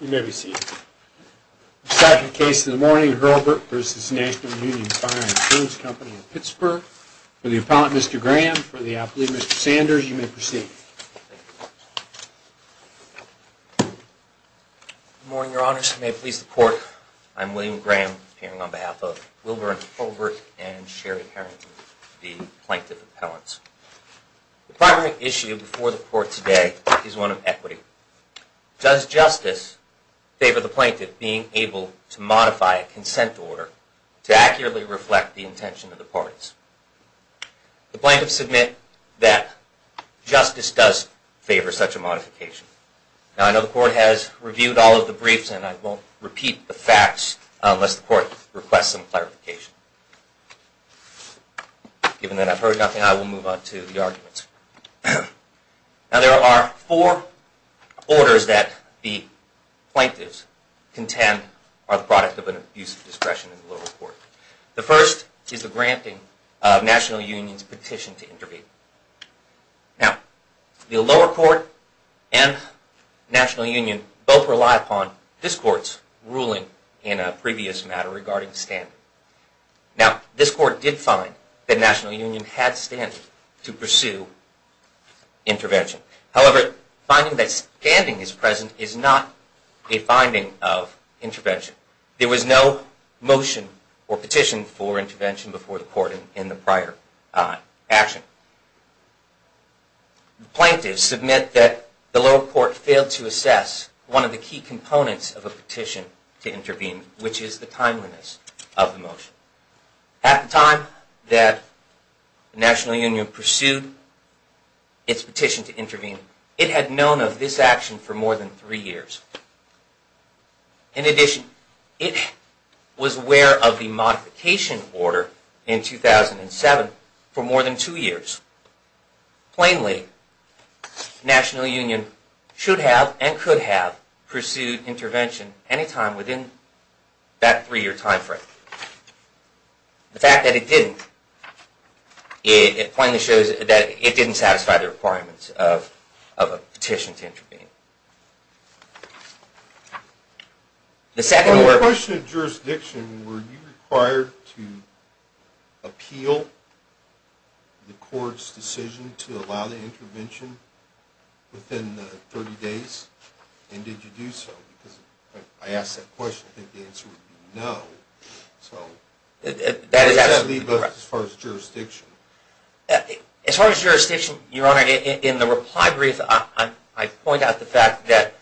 You may be seated. The second case of the morning, Hurlbert v. National Union Fire Insurance Company of Pittsburgh. For the appellant, Mr. Graham, for the athlete, Mr. Sanders, you may proceed. Good morning, Your Honors. May it please the Court, I'm William Graham, appearing on behalf of Wilbur and Hurlbert and Sherry Harrington, the plaintiff appellants. The primary issue before the Court today is one of equity. Does justice favor the plaintiff being able to modify a consent order to accurately reflect the intention of the parties? The plaintiffs submit that justice does favor such a modification. Now, I know the Court has reviewed all of the briefs and I won't repeat the facts unless the Court requests some clarification. Given that I've heard nothing, I will move on to the arguments. Now, there are four orders that the plaintiffs contend are the product of an abuse of discretion in the lower court. The first is the granting of National Union's petition to intervene. Now, the lower court and National Union both rely upon this Court's ruling in a previous matter regarding standing. Now, this Court did find that National Union had standing to pursue intervention. However, finding that standing is present is not a finding of intervention. There was no motion or petition for intervention before the Court in the prior action. The plaintiffs submit that the lower court failed to assess one of the key components of a petition to intervene, which is the timeliness of the motion. At the time that National Union pursued its petition to intervene, it had known of this action for more than three years. In addition, it was aware of the modification order in 2007 for more than two years. Plainly, National Union should have and could have pursued intervention anytime within that three-year time frame. The fact that it didn't plainly shows that it didn't satisfy the requirements of a petition to intervene. The second... On the question of jurisdiction, were you required to appeal the Court's decision to allow the intervention within 30 days, and did you do so? Because I asked that question, I think the answer would be no. That is absolutely correct. As far as jurisdiction. As far as jurisdiction, Your Honor, in the reply brief, I point out the fact that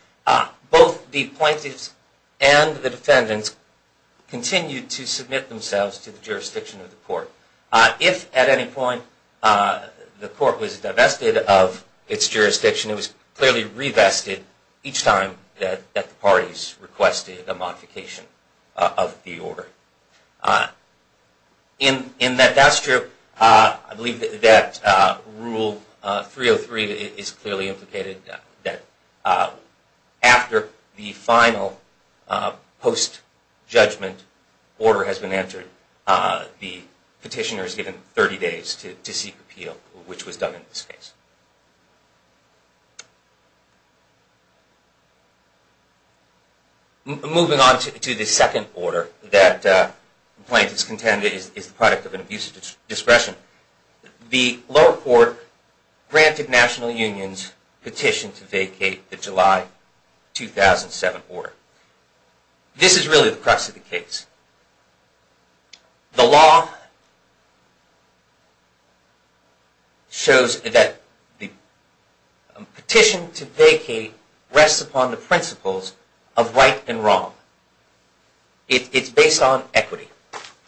both the plaintiffs and the defendants continued to submit themselves to the jurisdiction of the Court. If at any point the Court was divested of its jurisdiction, it was clearly revested each time that the parties requested a modification of the order. In that that's true, I believe that Rule 303 is clearly implicated that after the final post-judgment order has been entered, the petitioner is given 30 days to seek appeal, which was done in this case. Moving on to the second order that the plaintiffs contended is the product of an abuse of discretion. The lower court granted National Union's petition to vacate the July 2007 order. This is really the crux of the case. The law shows that the petition to vacate rests upon the principles of right and wrong. It's based on equity.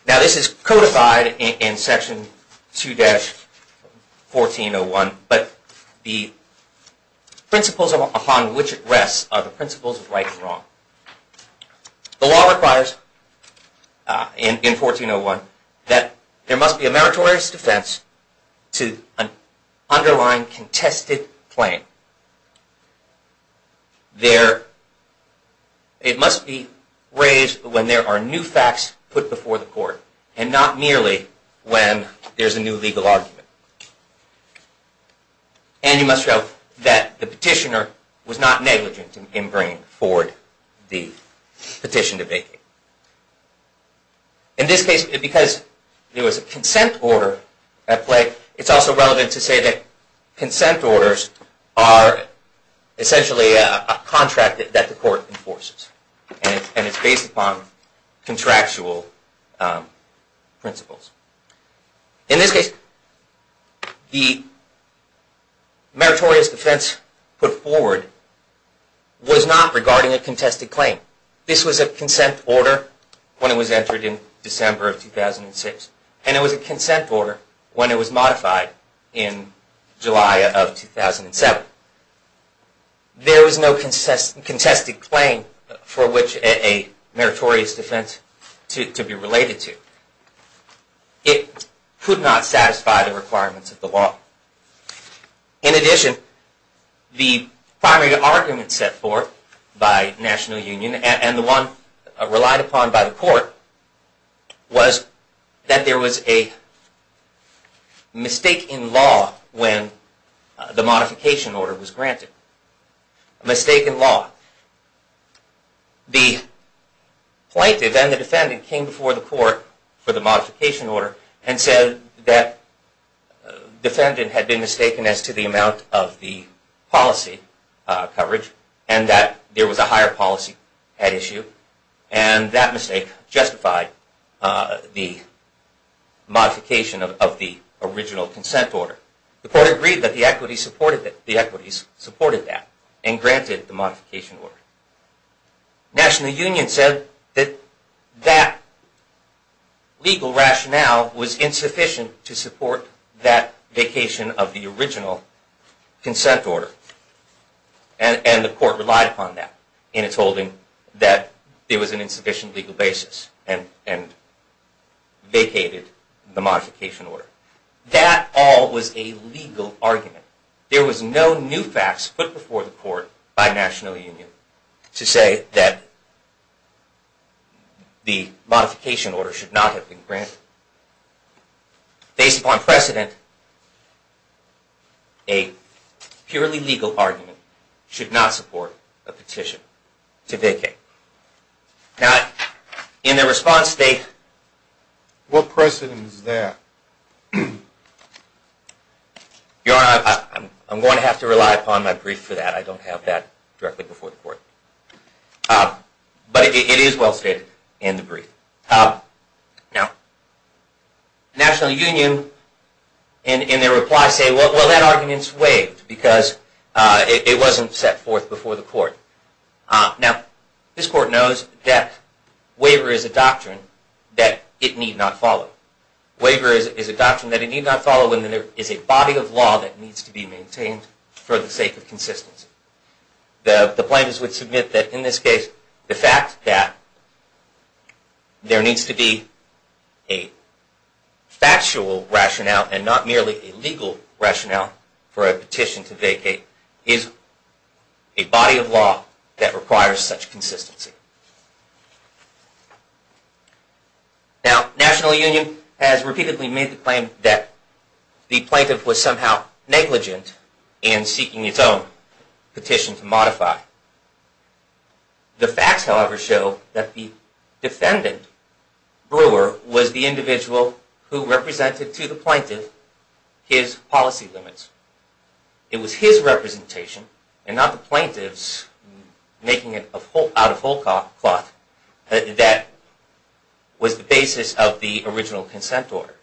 Now this is codified in Section 2-1401, but the principles upon which it rests are the principles of right and wrong. The law requires in 1401 that there must be a meritorious defense to an underlying contested claim. It must be raised when there are new facts put before the Court, and not merely when there's a new legal argument. And you must note that the petitioner was not negligent in bringing forward the petition to vacate. In this case, because there was a consent order at play, it's also relevant to say that consent orders are essentially a contract that the Court enforces. And it's based upon contractual principles. In this case, the meritorious defense put forward was not regarding a contested claim. This was a consent order when it was entered in December of 2006, and it was a consent order when it was modified in July of 2007. There was no contested claim for which a meritorious defense to be related to. It could not satisfy the requirements of the law. In addition, the primary argument set forth by National Union, and the one relied upon by the Court, was that there was a mistake in law when the modification order was granted. A mistake in law. The plaintiff and the defendant came before the Court for the modification order, and said that the defendant had been mistaken as to the amount of the policy coverage, and that there was a higher policy at issue, and that mistake justified the modification of the original consent order. The Court agreed that the equities supported that, and granted the modification order. National Union said that that legal rationale was insufficient to support that vacation of the original consent order. And the Court relied upon that in its holding, that there was an insufficient legal basis, and vacated the modification order. That all was a legal argument. There was no new facts put before the Court by National Union to say that the modification order should not have been granted. Based upon precedent, a purely legal argument should not support a petition to vacate. Now, in their response, they... What precedent is that? Your Honor, I'm going to have to rely upon my brief for that. I don't have that directly before the Court. But it is well stated in the brief. Now, National Union, in their reply, say, well, that argument's waived, because it wasn't set forth before the Court. Now, this Court knows that waiver is a doctrine that it need not follow. Waiver is a doctrine that it need not follow when there is a body of law that needs to be maintained for the sake of consistency. The plaintiffs would submit that in this case, the fact that there needs to be a factual rationale, and not merely a legal rationale, for a petition to vacate is a body of law that requires such consistency. Now, National Union has repeatedly made the claim that the plaintiff was somehow negligent in seeking its own petition to modify. The facts, however, show that the defendant, Brewer, was the individual who represented to the plaintiff his policy limits. It was his representation, and not the plaintiff's, making it out of whole cloth, that was the basis of the original consent order.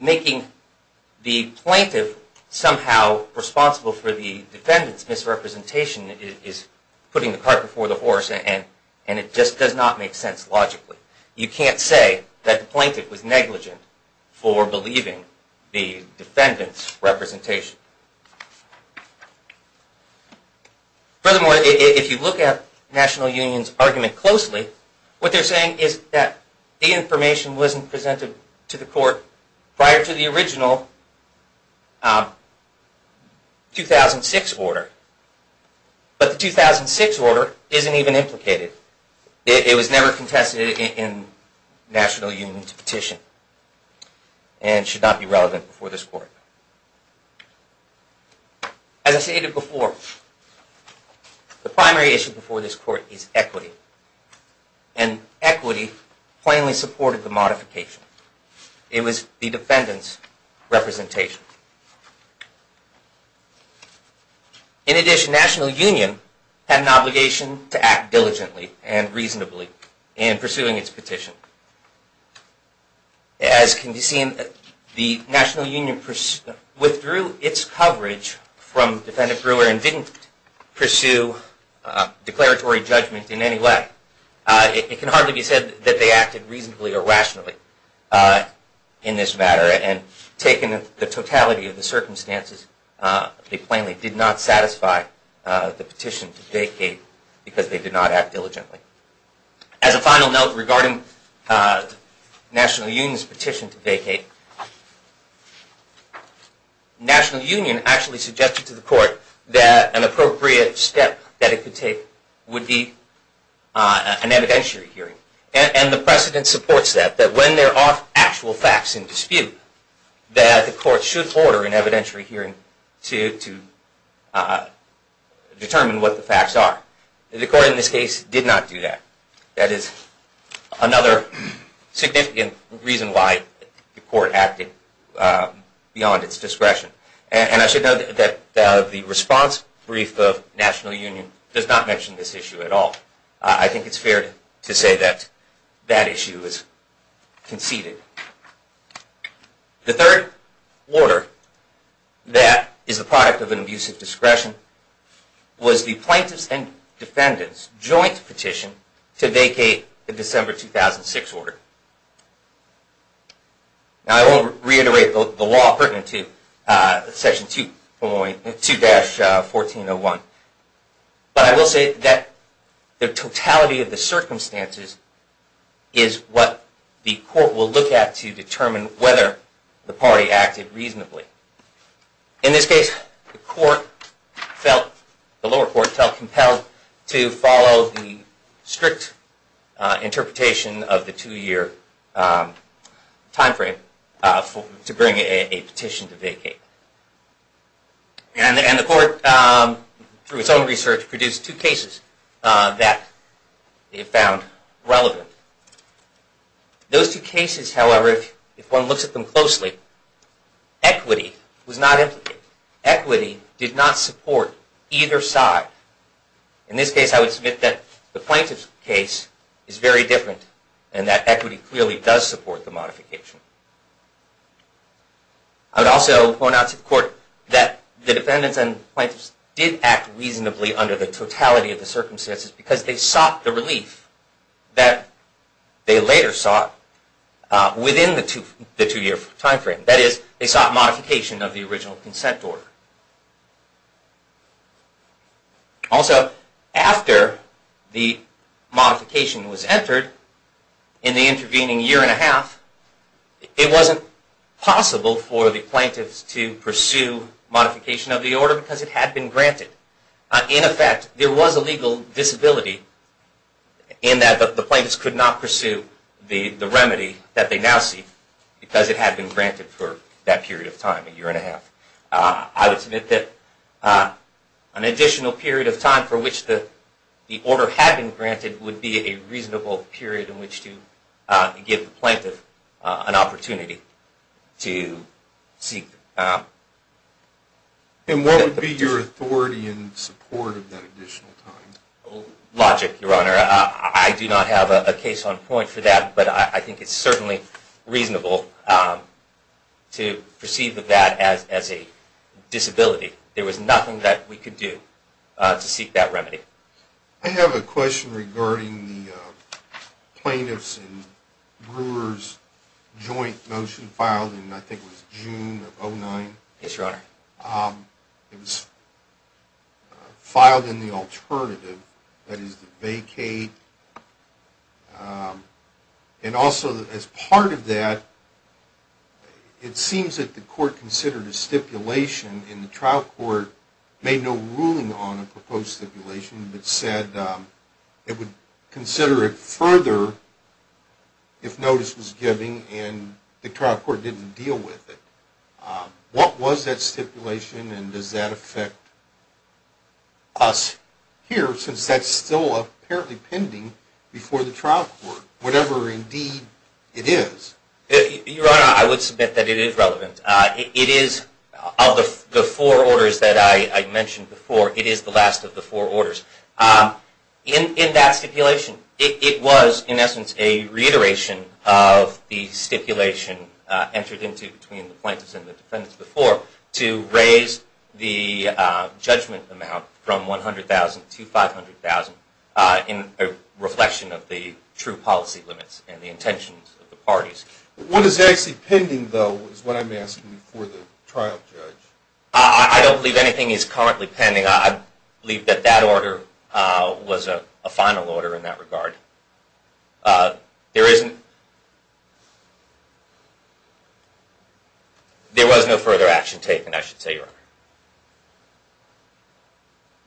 Making the plaintiff somehow responsible for the defendant's misrepresentation is putting the cart before the horse, and it just does not make sense logically. You can't say that the plaintiff was negligent for believing the defendant's representation. Furthermore, if you look at National Union's argument closely, what they're saying is that the information wasn't presented to the court prior to the original 2006 order. But the 2006 order isn't even implicated. It was never contested in National Union's petition, and should not be relevant before this court. As I stated before, the primary issue before this court is equity. And equity plainly supported the modification. It was the defendant's representation. In addition, National Union had an obligation to act diligently and reasonably in pursuing its petition. As can be seen, the National Union withdrew its coverage from Defendant Brewer and didn't pursue declaratory judgment in any way. It can hardly be said that they acted reasonably or rationally in this matter. And taken the totality of the circumstances, they plainly did not satisfy the petition to vacate because they did not act diligently. As a final note regarding National Union's petition to vacate, National Union actually suggested to the court that an appropriate step that it could take would be an evidentiary hearing. And the precedent supports that, that when there are actual facts in dispute, that the court should order an evidentiary hearing to determine what the facts are. The court in this case did not do that. That is another significant reason why the court acted beyond its discretion. And I should note that the response brief of National Union does not mention this issue at all. I think it's fair to say that that issue is conceded. The third order that is the product of an abusive discretion was the Plaintiff's and Defendant's joint petition to vacate the December 2006 order. Now I won't reiterate the law pertinent to Section 2-1401, but I will say that the totality of the circumstances is what the court will look at to determine whether the party acted reasonably. In this case, the lower court felt compelled to follow the strict interpretation of the two-year time frame to bring a petition to vacate. And the court, through its own research, produced two cases that it found relevant. Those two cases, however, if one looks at them closely, equity was not implicated. Equity did not support either side. In this case, I would submit that the Plaintiff's case is very different, and that equity clearly does support the modification. I would also point out to the court that the Defendants and Plaintiffs did act reasonably under the totality of the circumstances because they sought the relief that they later sought within the two-year time frame. That is, they sought modification of the original consent order. Also, after the modification was entered, in the intervening year and a half, it wasn't possible for the Plaintiffs to pursue modification of the order because it had been granted. In effect, there was a legal disability in that the Plaintiffs could not pursue the remedy that they now seek because it had been granted for that period of time, a year and a half. I would submit that an additional period of time for which the order had been granted would be a reasonable period in which to give the Plaintiff an opportunity to seek... And what would be your authority in support of that additional time? Logic, Your Honor. I do not have a case on point for that, but I think it's certainly reasonable to perceive that as a disability. There was nothing that we could do to seek that remedy. I have a question regarding the Plaintiffs' and Brewer's joint motion filed in, I think it was June of 2009. Yes, Your Honor. It was filed in the alternative, that is, the vacate. And also, as part of that, it seems that the Court considered a stipulation, and the trial court made no ruling on a proposed stipulation, but said it would consider it further if notice was given, and the trial court didn't deal with it. What was that stipulation, and does that affect us here, since that's still apparently pending before the trial court, whatever indeed it is? Your Honor, I would submit that it is relevant. It is, of the four orders that I mentioned before, it is the last of the four orders. In that stipulation, it was, in essence, a reiteration of the stipulation entered into between the Plaintiffs and the Defendants before to raise the judgment amount from $100,000 to $500,000 in reflection of the true policy limits and the intentions of the parties. What is actually pending, though, is what I'm asking for the trial judge. I don't believe anything is currently pending. I believe that that order was a final order in that regard. There was no further action taken, I should say, Your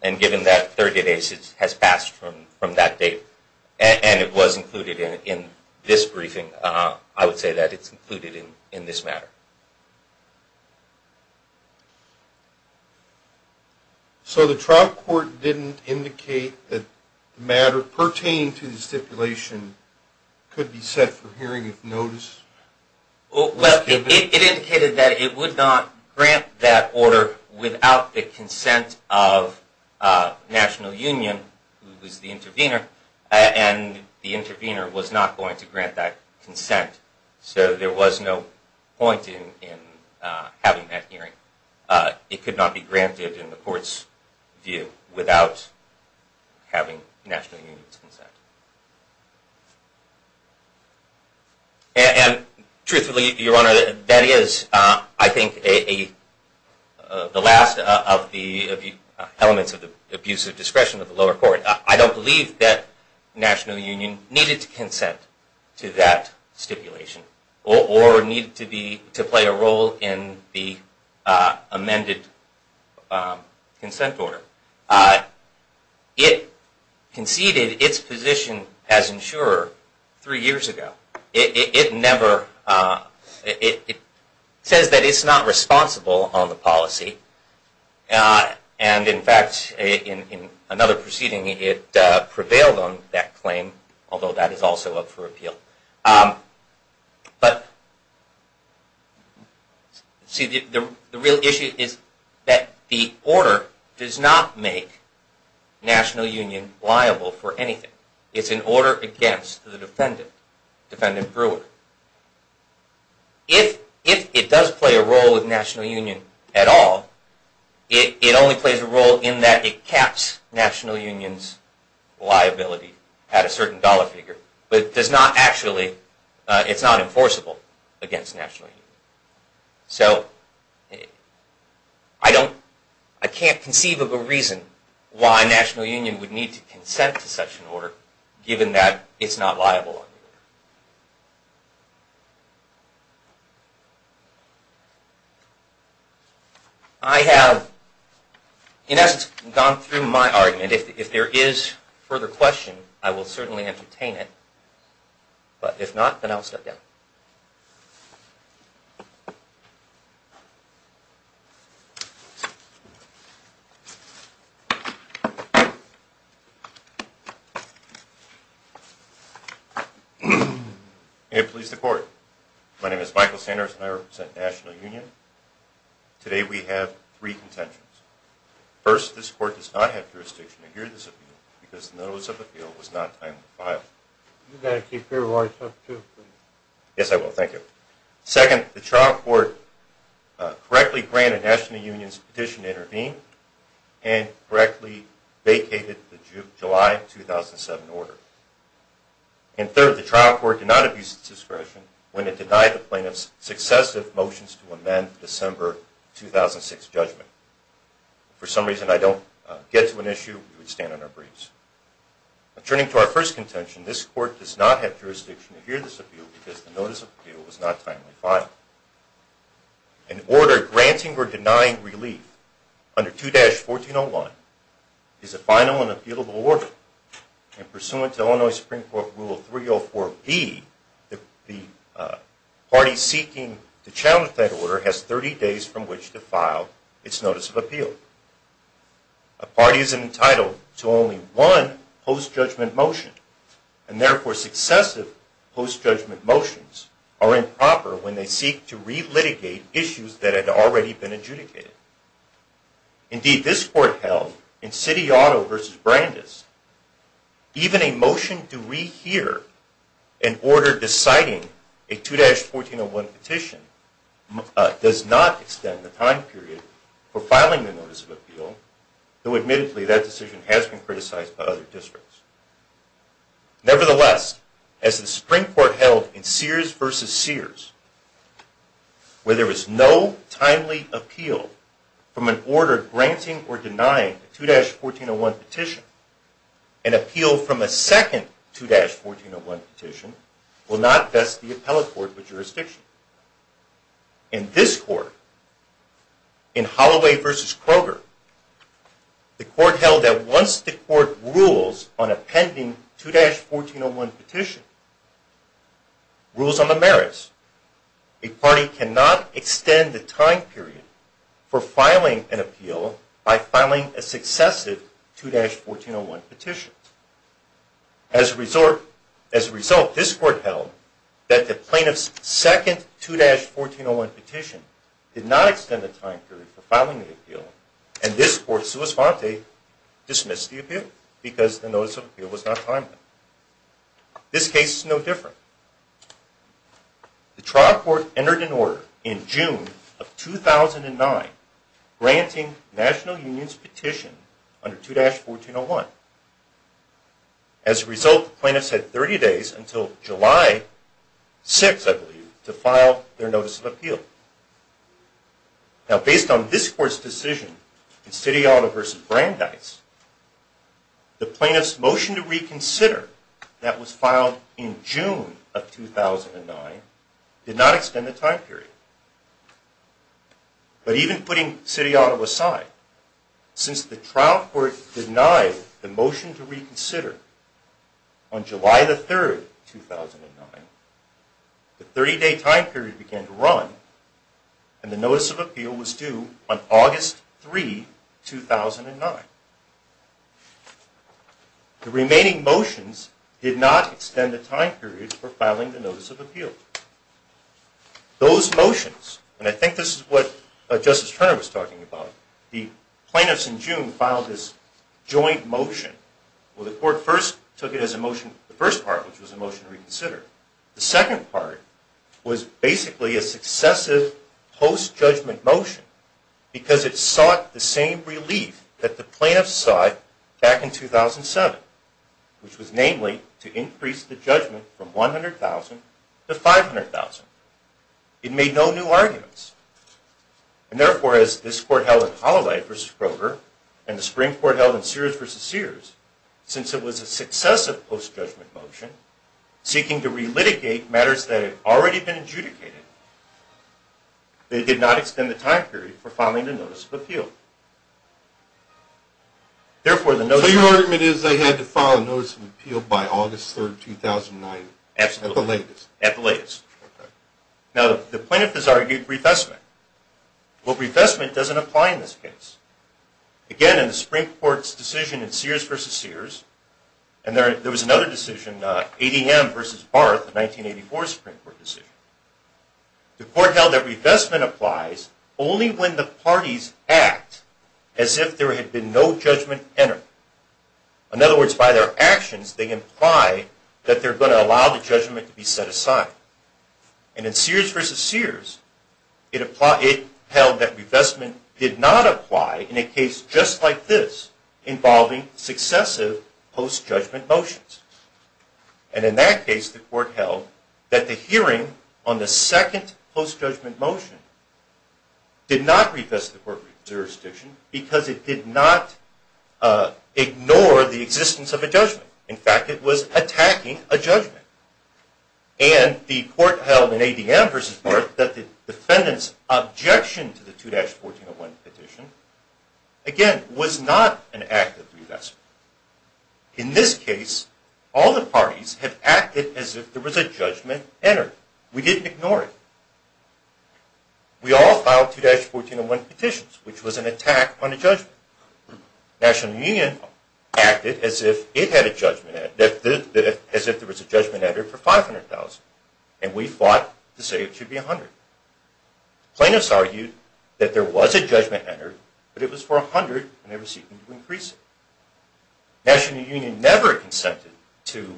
Honor. Given that 30 days has passed from that date, and it was included in this briefing, I would say that it's included in this matter. So the trial court didn't indicate that the matter pertaining to the stipulation could be set for hearing of notice? Well, it indicated that it would not grant that order without the consent of National Union, who was the intervener, and the intervener was not going to grant that consent. So there was no point in having that hearing. It could not be granted in the court's view without having National Union's consent. And truthfully, Your Honor, that is, I think, the last of the elements of the abuse of discretion of the lower court. I don't believe that National Union needed to consent to that stipulation, or needed to play a role in the amended consent order. It conceded its position as insurer three years ago. It says that it's not responsible on the policy, and in fact, in another proceeding, it prevailed on that claim, although that is also up for appeal. But the real issue is that the order does not make National Union liable for anything. It's an order against the defendant, Defendant Brewer. If it does play a role with National Union at all, it only plays a role in that it caps National Union's liability at a certain dollar figure, but it's not enforceable against National Union. So, I can't conceive of a reason why National Union would need to consent to such an order, given that it's not liable. I have, in essence, gone through my argument. If there is further question, I will certainly entertain it. But if not, then I will step down. May it please the Court. My name is Michael Sanders, and I represent National Union. Today we have three contentions. First, this Court does not have jurisdiction to hear this appeal, because the notice of appeal was not time to file. Yes, I will. Thank you. Second, the trial court correctly granted National Union's petition to intervene and correctly vacated the July 2007 order. And third, the trial court did not abuse its discretion when it denied the plaintiff's successive motions to amend the December 2006 judgment. If for some reason I don't get to an issue, we would stand on our briefs. Turning to our first contention, this Court does not have jurisdiction to hear this appeal, because the notice of appeal was not timely filed. An order granting or denying relief under 2-1401 is a final and appealable order, and pursuant to Illinois Supreme Court Rule 304B, the party seeking to challenge that order has 30 days from which to file its notice of appeal. A party is entitled to only one post-judgment motion, and therefore successive post-judgment motions are improper when they seek to re-litigate issues that had already been adjudicated. Indeed, this Court held, in City-Otto v. Brandes, even a motion to rehear an order deciding a 2-1401 petition does not extend the time period for filing the notice of appeal, though admittedly that decision has been criticized by other districts. Nevertheless, as the Supreme Court held in Sears v. Sears, where there was no timely appeal from an order granting or denying a 2-1401 petition, an appeal from a second 2-1401 petition will not vest the appellate court with jurisdiction. In this Court, in Holloway v. Kroger, the Court held that once the Court rules on a pending 2-1401 petition, rules on the merits, a party cannot extend the time period for filing an appeal by filing a successive 2-1401 petition. As a result, this Court held that the plaintiff's second 2-1401 petition did not extend the time period for filing the appeal, and this Court, sua sponte, dismissed the appeal because the notice of appeal was not timely. This case is no different. The trial court entered an order in June of 2009 granting the National Union's petition under 2-1401. As a result, the plaintiffs had 30 days until July 6, I believe, to file their notice of appeal. Now, based on this Court's decision in City Auto v. Brandeis, the plaintiffs' motion to reconsider that was filed in June of 2009 did not extend the time period. But even putting City Auto aside, since the trial court denied the motion to reconsider on July 3, 2009, and the notice of appeal was due on August 3, 2009, the remaining motions did not extend the time period for filing the notice of appeal. Those motions, and I think this is what Justice Turner was talking about, the plaintiffs in June filed this joint motion. Well, the Court first took it as a motion, the first part, which was a motion to reconsider. The second part was basically a successive post-judgment motion because it sought the same relief that the plaintiffs sought back in 2007, which was namely to increase the judgment from $100,000 to $500,000. It made no new arguments. And therefore, as this Court held in Holloway v. Kroger and the Supreme Court held in Sears v. Sears, since it was a successive post-judgment motion seeking to relitigate matters that had already been adjudicated, it did not extend the time period for filing the notice of appeal. So your argument is they had to file a notice of appeal by August 3, 2009, at the latest? Absolutely, at the latest. Now, the plaintiff has argued refestment. Well, refestment doesn't apply in this case. Again, in the Supreme Court's decision in Sears v. Sears, and there was another decision, ADM v. Barth, a 1984 Supreme Court decision, the Court held that refestment applies only when the parties act as if there had been no judgment entered. In other words, by their actions, they imply that they're going to allow the judgment to be set aside. And in Sears v. Sears, it held that refestment did not apply in a case just like this involving successive post-judgment motions. And in that case, the Court held that the hearing on the second post-judgment motion did not refest the court jurisdiction because it did not ignore the existence of a judgment. In fact, it was attacking a judgment. And the Court held in ADM v. Barth that the defendant's objection to the 2-1401 petition, again, was not an act of refestment. In this case, all the parties had acted as if there was a judgment entered. We didn't ignore it. We all filed 2-1401 petitions, which was an attack on a judgment. National Union acted as if it had a judgment, as if there was a judgment entered for $500,000, and we fought to say it should be $100,000. Plaintiffs argued that there was a judgment entered, but it was for $100,000, and they were seeking to increase it. National Union never consented to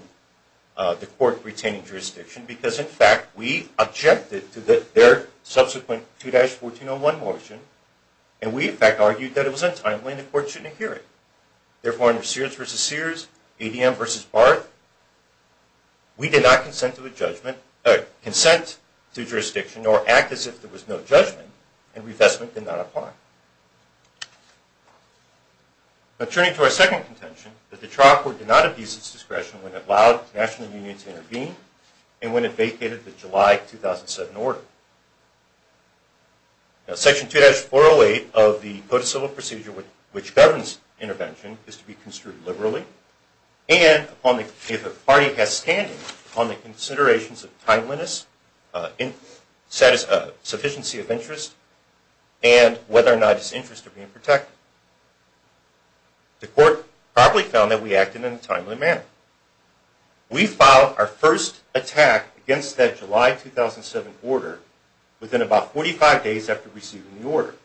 the Court retaining jurisdiction because, in fact, we objected to their subsequent 2-1401 motion, and we, in fact, argued that it was untimely and the Court shouldn't hear it. Therefore, under Sears v. Sears, ADM v. Barth, we did not consent to a judgment, or consent to jurisdiction, or act as if there was no judgment, and revestment did not apply. Turning to our second contention, that the trial court did not abuse its discretion when it allowed National Union to intervene and when it vacated the July 2007 order. Section 2-408 of the Code of Civil Procedure, which governs intervention, is to be construed liberally, and if a party has standing upon the considerations of timeliness, sufficiency of interest, and whether or not its interests are being protected. The Court probably found that we acted in a timely manner. We filed our first attack against that July 2007 order within about 45 days after receiving the order.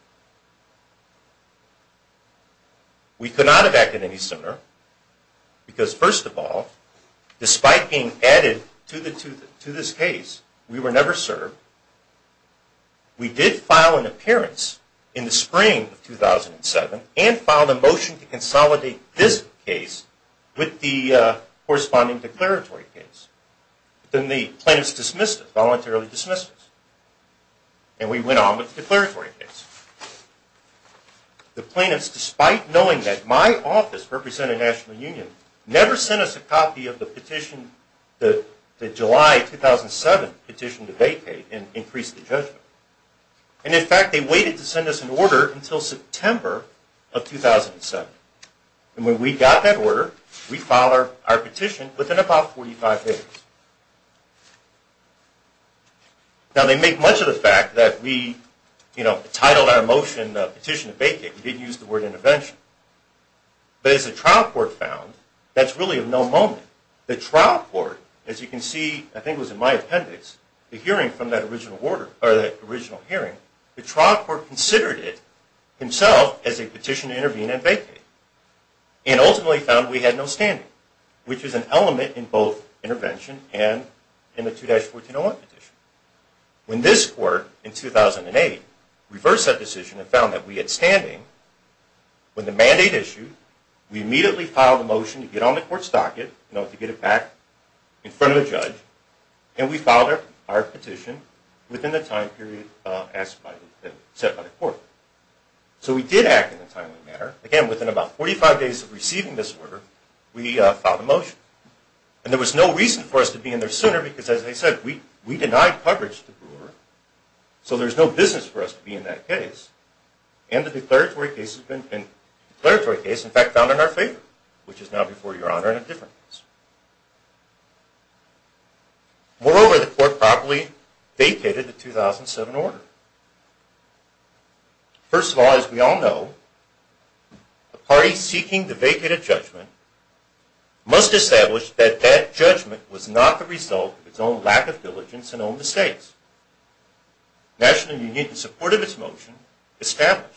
We could not have acted any sooner because, first of all, despite being added to this case, we were never served. We did file an appearance in the spring of 2007 and filed a motion to consolidate this case with the corresponding declaratory case. Then the plaintiffs dismissed us, voluntarily dismissed us, and we went on with the declaratory case. The plaintiffs, despite knowing that my office, representing National Union, never sent us a copy of the petition, the July 2007 petition to vacate and increase the judgment. In fact, they waited to send us an order until September of 2007. When we got that order, we filed our petition within about 45 days. They make much of the fact that we titled our motion the petition to vacate. We didn't use the word intervention. But as the trial court found, that's really of no moment. The trial court, as you can see, I think it was in my appendix, the hearing from that original hearing, the trial court considered it himself as a petition to intervene and vacate and ultimately found we had no standing, which is an element in both intervention and in the 2-1401 petition. When this court, in 2008, reversed that decision and found that we had standing when the mandate issued, we immediately filed a motion to get on the court's docket in order to get it back in front of the judge, and we filed our petition within the time period set by the court. So we did act in a timely manner. Again, within about 45 days of receiving this order, we filed a motion. And there was no reason for us to be in there sooner because, as I said, we denied coverage to Brewer, so there's no business for us to be in that case. And the declaratory case has been found in our favor, which is now before Your Honor in a different case. Moreover, the court properly vacated the 2007 order. First of all, as we all know, a party seeking to vacate a judgment must establish that that judgment was not the result of its own lack of diligence in all the states. The National Union, in support of its motion, established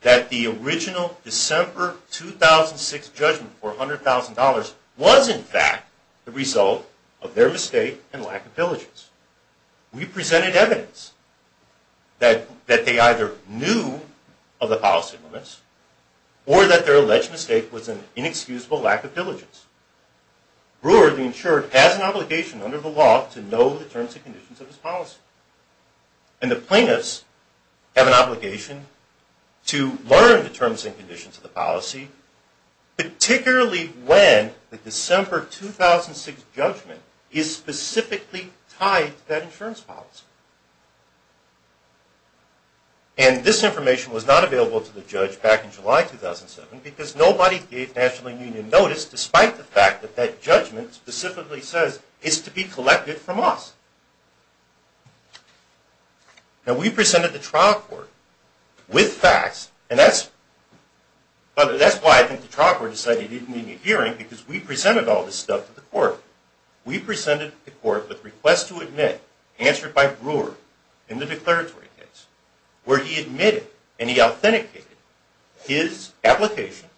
that the original December 2006 judgment for $100,000 was, in fact, the result of their mistake and lack of diligence. We presented evidence that they either knew of the policy limits or that their alleged mistake was an inexcusable lack of diligence. Brewer, the insured, has an obligation under the law to know the terms and conditions of his policy. And the plaintiffs have an obligation to learn the terms and conditions of the policy, particularly when the December 2006 judgment is specifically tied to that insurance policy. And this information was not available to the judge back in July 2007 because nobody gave National Union notice despite the fact that that judgment specifically says it's to be collected from us. Now, we presented the trial court with facts, and that's why I think the trial court decided it didn't need a hearing, because we presented all this stuff to the court. We presented the court with requests to admit, answered by Brewer in the declaratory case, where he admitted and he authenticated his application,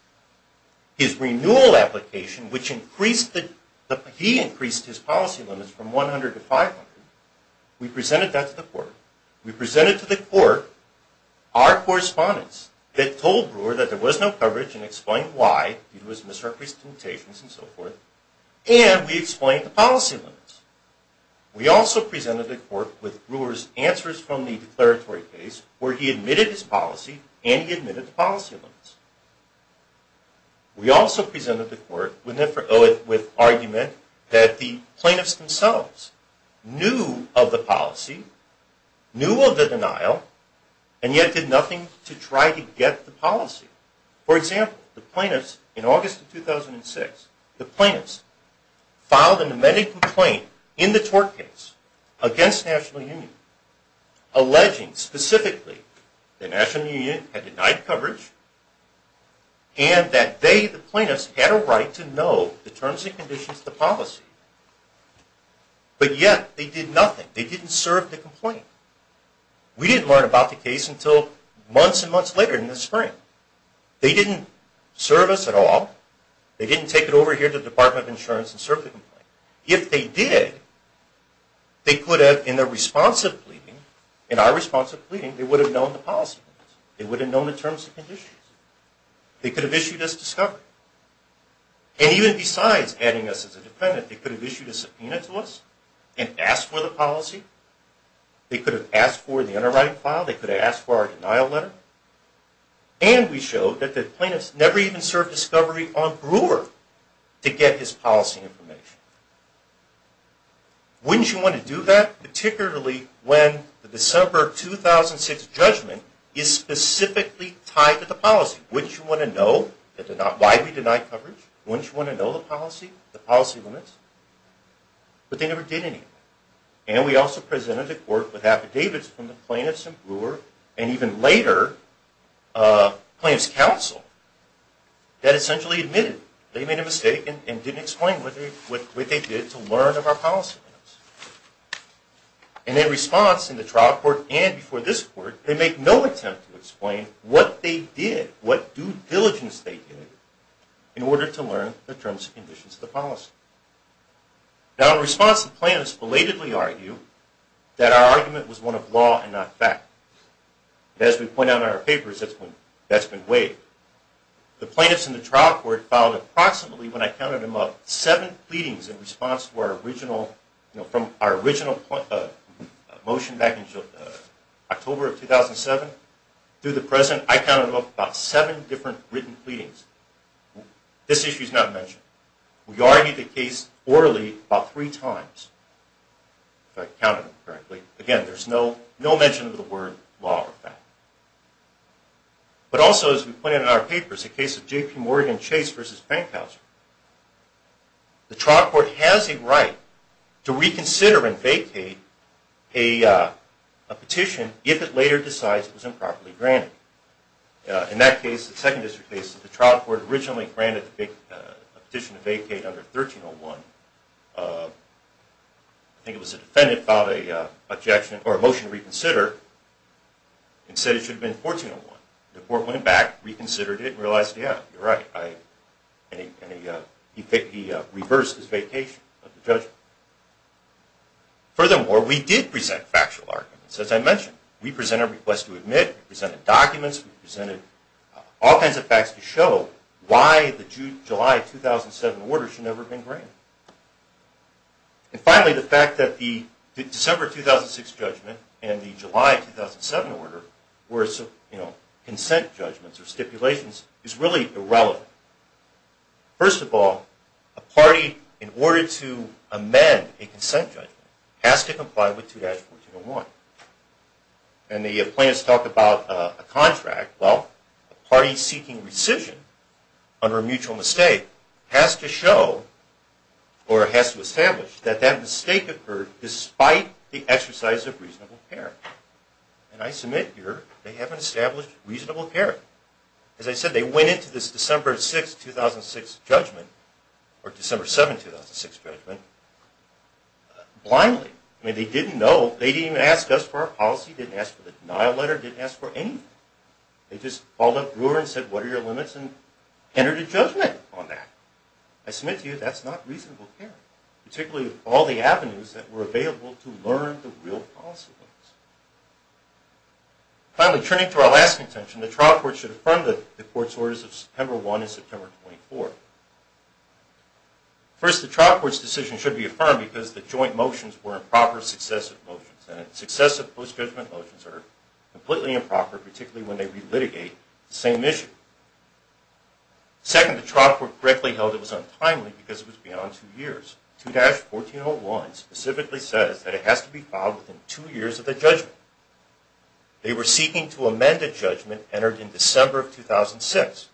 his renewal application, which he increased his policy limits from 100 to 500. We presented that to the court. We presented to the court our correspondence that told Brewer that there was no coverage and explained why, due to his misrepresentations and so forth, and we explained the policy limits. We also presented the court with Brewer's answers from the declaratory case, where he admitted his policy and he admitted the policy limits. We also presented the court with argument that the plaintiffs themselves knew of the policy, knew of the denial, and yet did nothing to try to get the policy. For example, the plaintiffs in August of 2006, the plaintiffs filed an amended complaint in the tort case against National Union, alleging specifically that National Union had denied coverage and that they, the plaintiffs, had a right to know the terms and conditions of the policy, but yet they did nothing. They didn't serve the complaint. We didn't learn about the case until months and months later in the spring. They didn't serve us at all. They didn't take it over here to the Department of Insurance and serve the complaint. If they did, they could have, in their response of pleading, in our response of pleading, they would have known the policy limits. They would have known the terms and conditions. They could have issued us discovery. And even besides adding us as a defendant, they could have issued a subpoena to us and asked for the policy. They could have asked for the underwriting file. They could have asked for our denial letter. And we showed that the plaintiffs never even served discovery on Brewer to get his policy information. Wouldn't you want to do that, particularly when the December 2006 judgment is specifically tied to the policy? Wouldn't you want to know why we denied coverage? Wouldn't you want to know the policy limits? But they never did anything. And we also presented the court with affidavits from the plaintiffs in Brewer and even later plaintiffs' counsel that essentially admitted they made a mistake and didn't explain what they did in order to learn of our policy limits. And in response in the trial court and before this court, they make no attempt to explain what they did, what due diligence they did, in order to learn the terms and conditions of the policy. Now in response, the plaintiffs belatedly argue that our argument was one of law and not fact. And as we point out in our papers, that's been waived. The plaintiffs in the trial court filed approximately, when I counted them up, seven pleadings in response to our original, from our original motion back in October of 2007 through the present. I counted them up about seven different written pleadings. This issue is not mentioned. We argued the case orally about three times, if I counted them correctly. Again, there's no mention of the word law or fact. But also, as we pointed out in our papers, the case of J.P. Morgan Chase versus Penkhauser, the trial court has a right to reconsider and vacate a petition if it later decides it was improperly granted. In that case, the second district case, the trial court originally granted a petition to vacate under 1301. I think it was a defendant filed a motion to reconsider and said it should have been 1401. The court went back, reconsidered it, and realized, yeah, you're right. He reversed his vacation of the judgment. Furthermore, we did present factual arguments, as I mentioned. We presented a request to admit. We presented documents. We presented all kinds of facts to show why the July 2007 order should never have been granted. And finally, the fact that the December 2006 judgment and the July 2007 order were consent judgments or stipulations is really irrelevant. First of all, a party, in order to amend a consent judgment, has to comply with 2-1401. And the plaintiffs talk about a contract. Well, a party seeking rescission under a mutual mistake has to show or has to establish that that mistake occurred despite the exercise of reasonable care. And I submit here, they haven't established reasonable care. As I said, they went into this December 6, 2006 judgment, or December 7, 2006 judgment, blindly. I mean, they didn't know. They didn't even ask us for our policy, didn't ask for the denial letter, didn't ask for anything. They just called up Brewer and said, what are your limits, and entered a judgment on that. I submit to you, that's not reasonable care, particularly with all the avenues that were available to learn the real policy limits. Finally, turning to our last contention, the trial court should affirm the court's orders of September 1 and September 24. First, the trial court's decision should be affirmed because the joint motions were improper successive motions, and successive post-judgment motions are completely improper, particularly when they re-litigate the same issue. Second, the trial court correctly held it was untimely because it was beyond two years. 2-1401 specifically says that it has to be filed within two years of the judgment. They were seeking to amend a judgment entered in December of 2006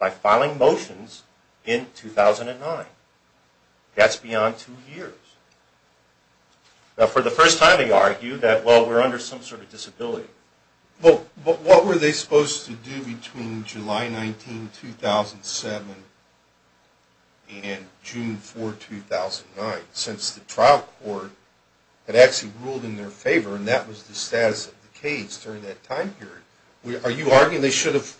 by filing motions in 2009. That's beyond two years. Now, for the first time, they argued that, well, we're under some sort of disability. But what were they supposed to do between July 19, 2007 and June 4, 2009, since the trial court had actually ruled in their favor, and that was the status of the case during that time period? Are you arguing they should have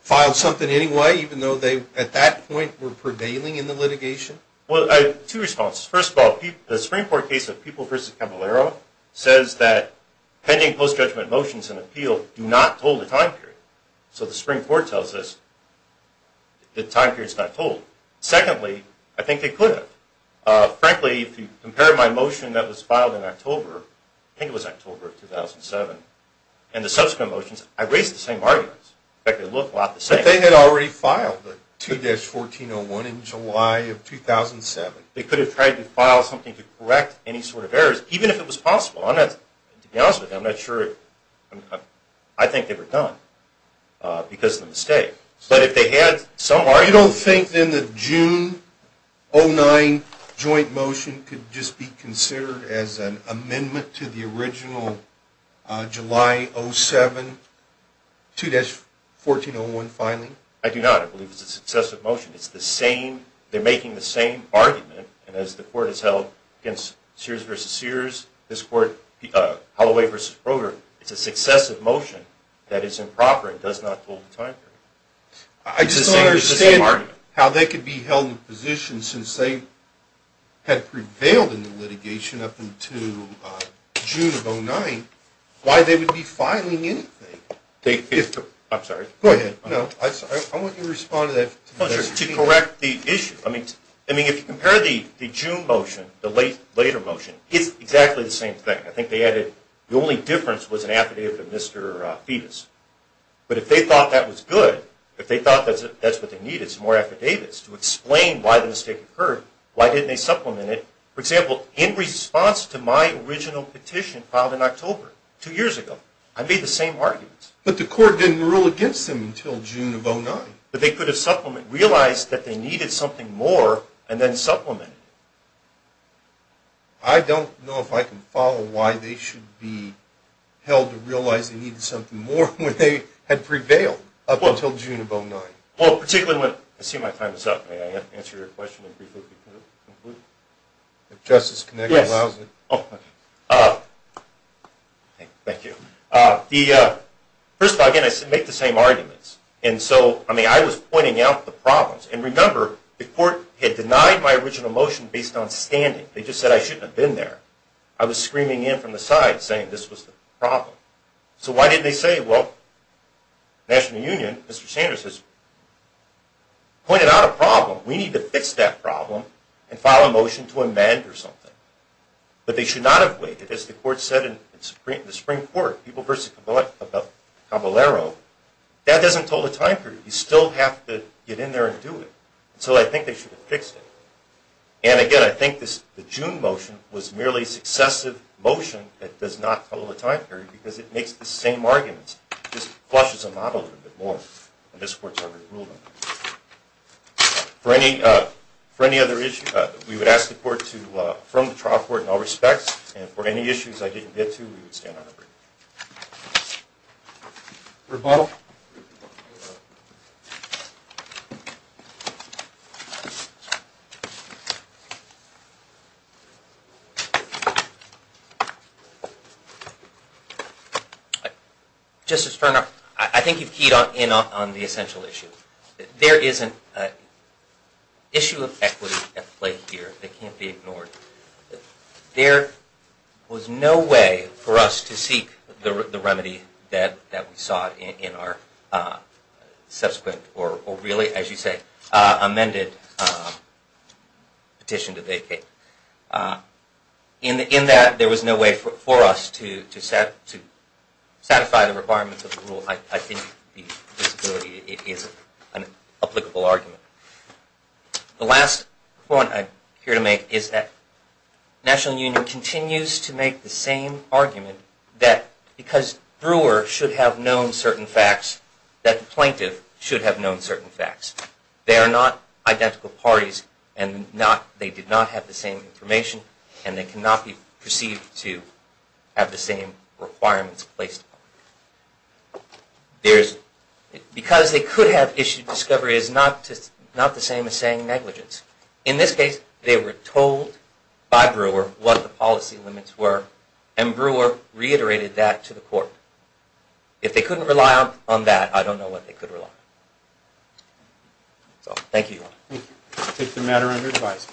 filed something anyway, even though they, at that point, were prevailing in the litigation? Well, I have two responses. First of all, the Supreme Court case of People v. Caballero says that pending post-judgment motions in appeal do not hold a time period. So the Supreme Court tells us the time period is not told. Secondly, I think they could have. Frankly, if you compare my motion that was filed in October, I think it was October of 2007, and the subsequent motions, I raised the same arguments. In fact, they look a lot the same. But they had already filed a 2-1401 in July of 2007. They could have tried to file something to correct any sort of errors, even if it was possible. To be honest with you, I'm not sure. I think they were done because of the mistake. But if they had some argument. You don't think, then, the June 2009 joint motion could just be considered as an amendment to the original July 2007 2-1401 filing? I do not. I believe it's a successive motion. It's the same. They're making the same argument. And as the Court has held against Sears v. Sears, this Court, Holloway v. Broderick, it's a successive motion that is improper and does not hold a time period. I just don't understand how they could be held in position since they had prevailed in the litigation up until June of 2009, why they would be filing anything. I'm sorry. Go ahead. I want you to respond to that to correct the issue. I mean, if you compare the June motion, the later motion, it's exactly the same thing. I think they added the only difference was an affidavit of Mr. Fetus. But if they thought that was good, if they thought that's what they needed, some more affidavits to explain why the mistake occurred, why didn't they supplement it? For example, in response to my original petition filed in October, two years ago, I made the same arguments. But the Court didn't rule against them until June of 2009. But they could have supplemented, realized that they needed something more, and then supplemented. I don't know if I can follow why they should be held to realize they needed something more when they had prevailed up until June of 2009. Well, particularly when, I see my time is up. May I answer your question briefly? If Justice Connick allows it. Yes. Thank you. First of all, again, I make the same arguments. And so, I mean, I was pointing out the problems. And remember, the Court had denied my original motion based on standing. They just said I shouldn't have been there. I was screaming in from the side saying this was the problem. So why didn't they say, well, National Union, Mr. Sanders has pointed out a problem. We need to fix that problem and file a motion to amend or something. But they should not have waited. As the Court said in the Supreme Court, people versus Caballero, that doesn't total the time period. You still have to get in there and do it. So I think they should have fixed it. And, again, I think the June motion was merely a successive motion that does not total the time period because it makes the same arguments. It just flushes the model a little bit more. And this Court's already ruled on that. For any other issues, we would ask the Court to affirm the trial court in all respects. And for any issues I didn't get to, we would stand on our word. Rebuttal. Justice Turner, I think you've keyed in on the essential issue. There isn't an issue of equity at play here that can't be ignored. There was no way for us to seek the remedy that we sought in our subsequent or really, as you say, amended petition to vacate. In that, there was no way for us to satisfy the requirements of the rule. I think the disability is an applicable argument. The last point I'm here to make is that National Union continues to make the same argument that because Brewer should have known certain facts, that the plaintiff should have known certain facts. They are not identical parties and they did not have the same information and they cannot be perceived to have the same requirements placed upon them. Because they could have issued discoveries not the same as saying negligence. In this case, they were told by Brewer what the policy limits were and Brewer reiterated that to the Court. If they couldn't rely on that, I don't know what they could rely on. So, thank you. Thank you. I take the matter under advice.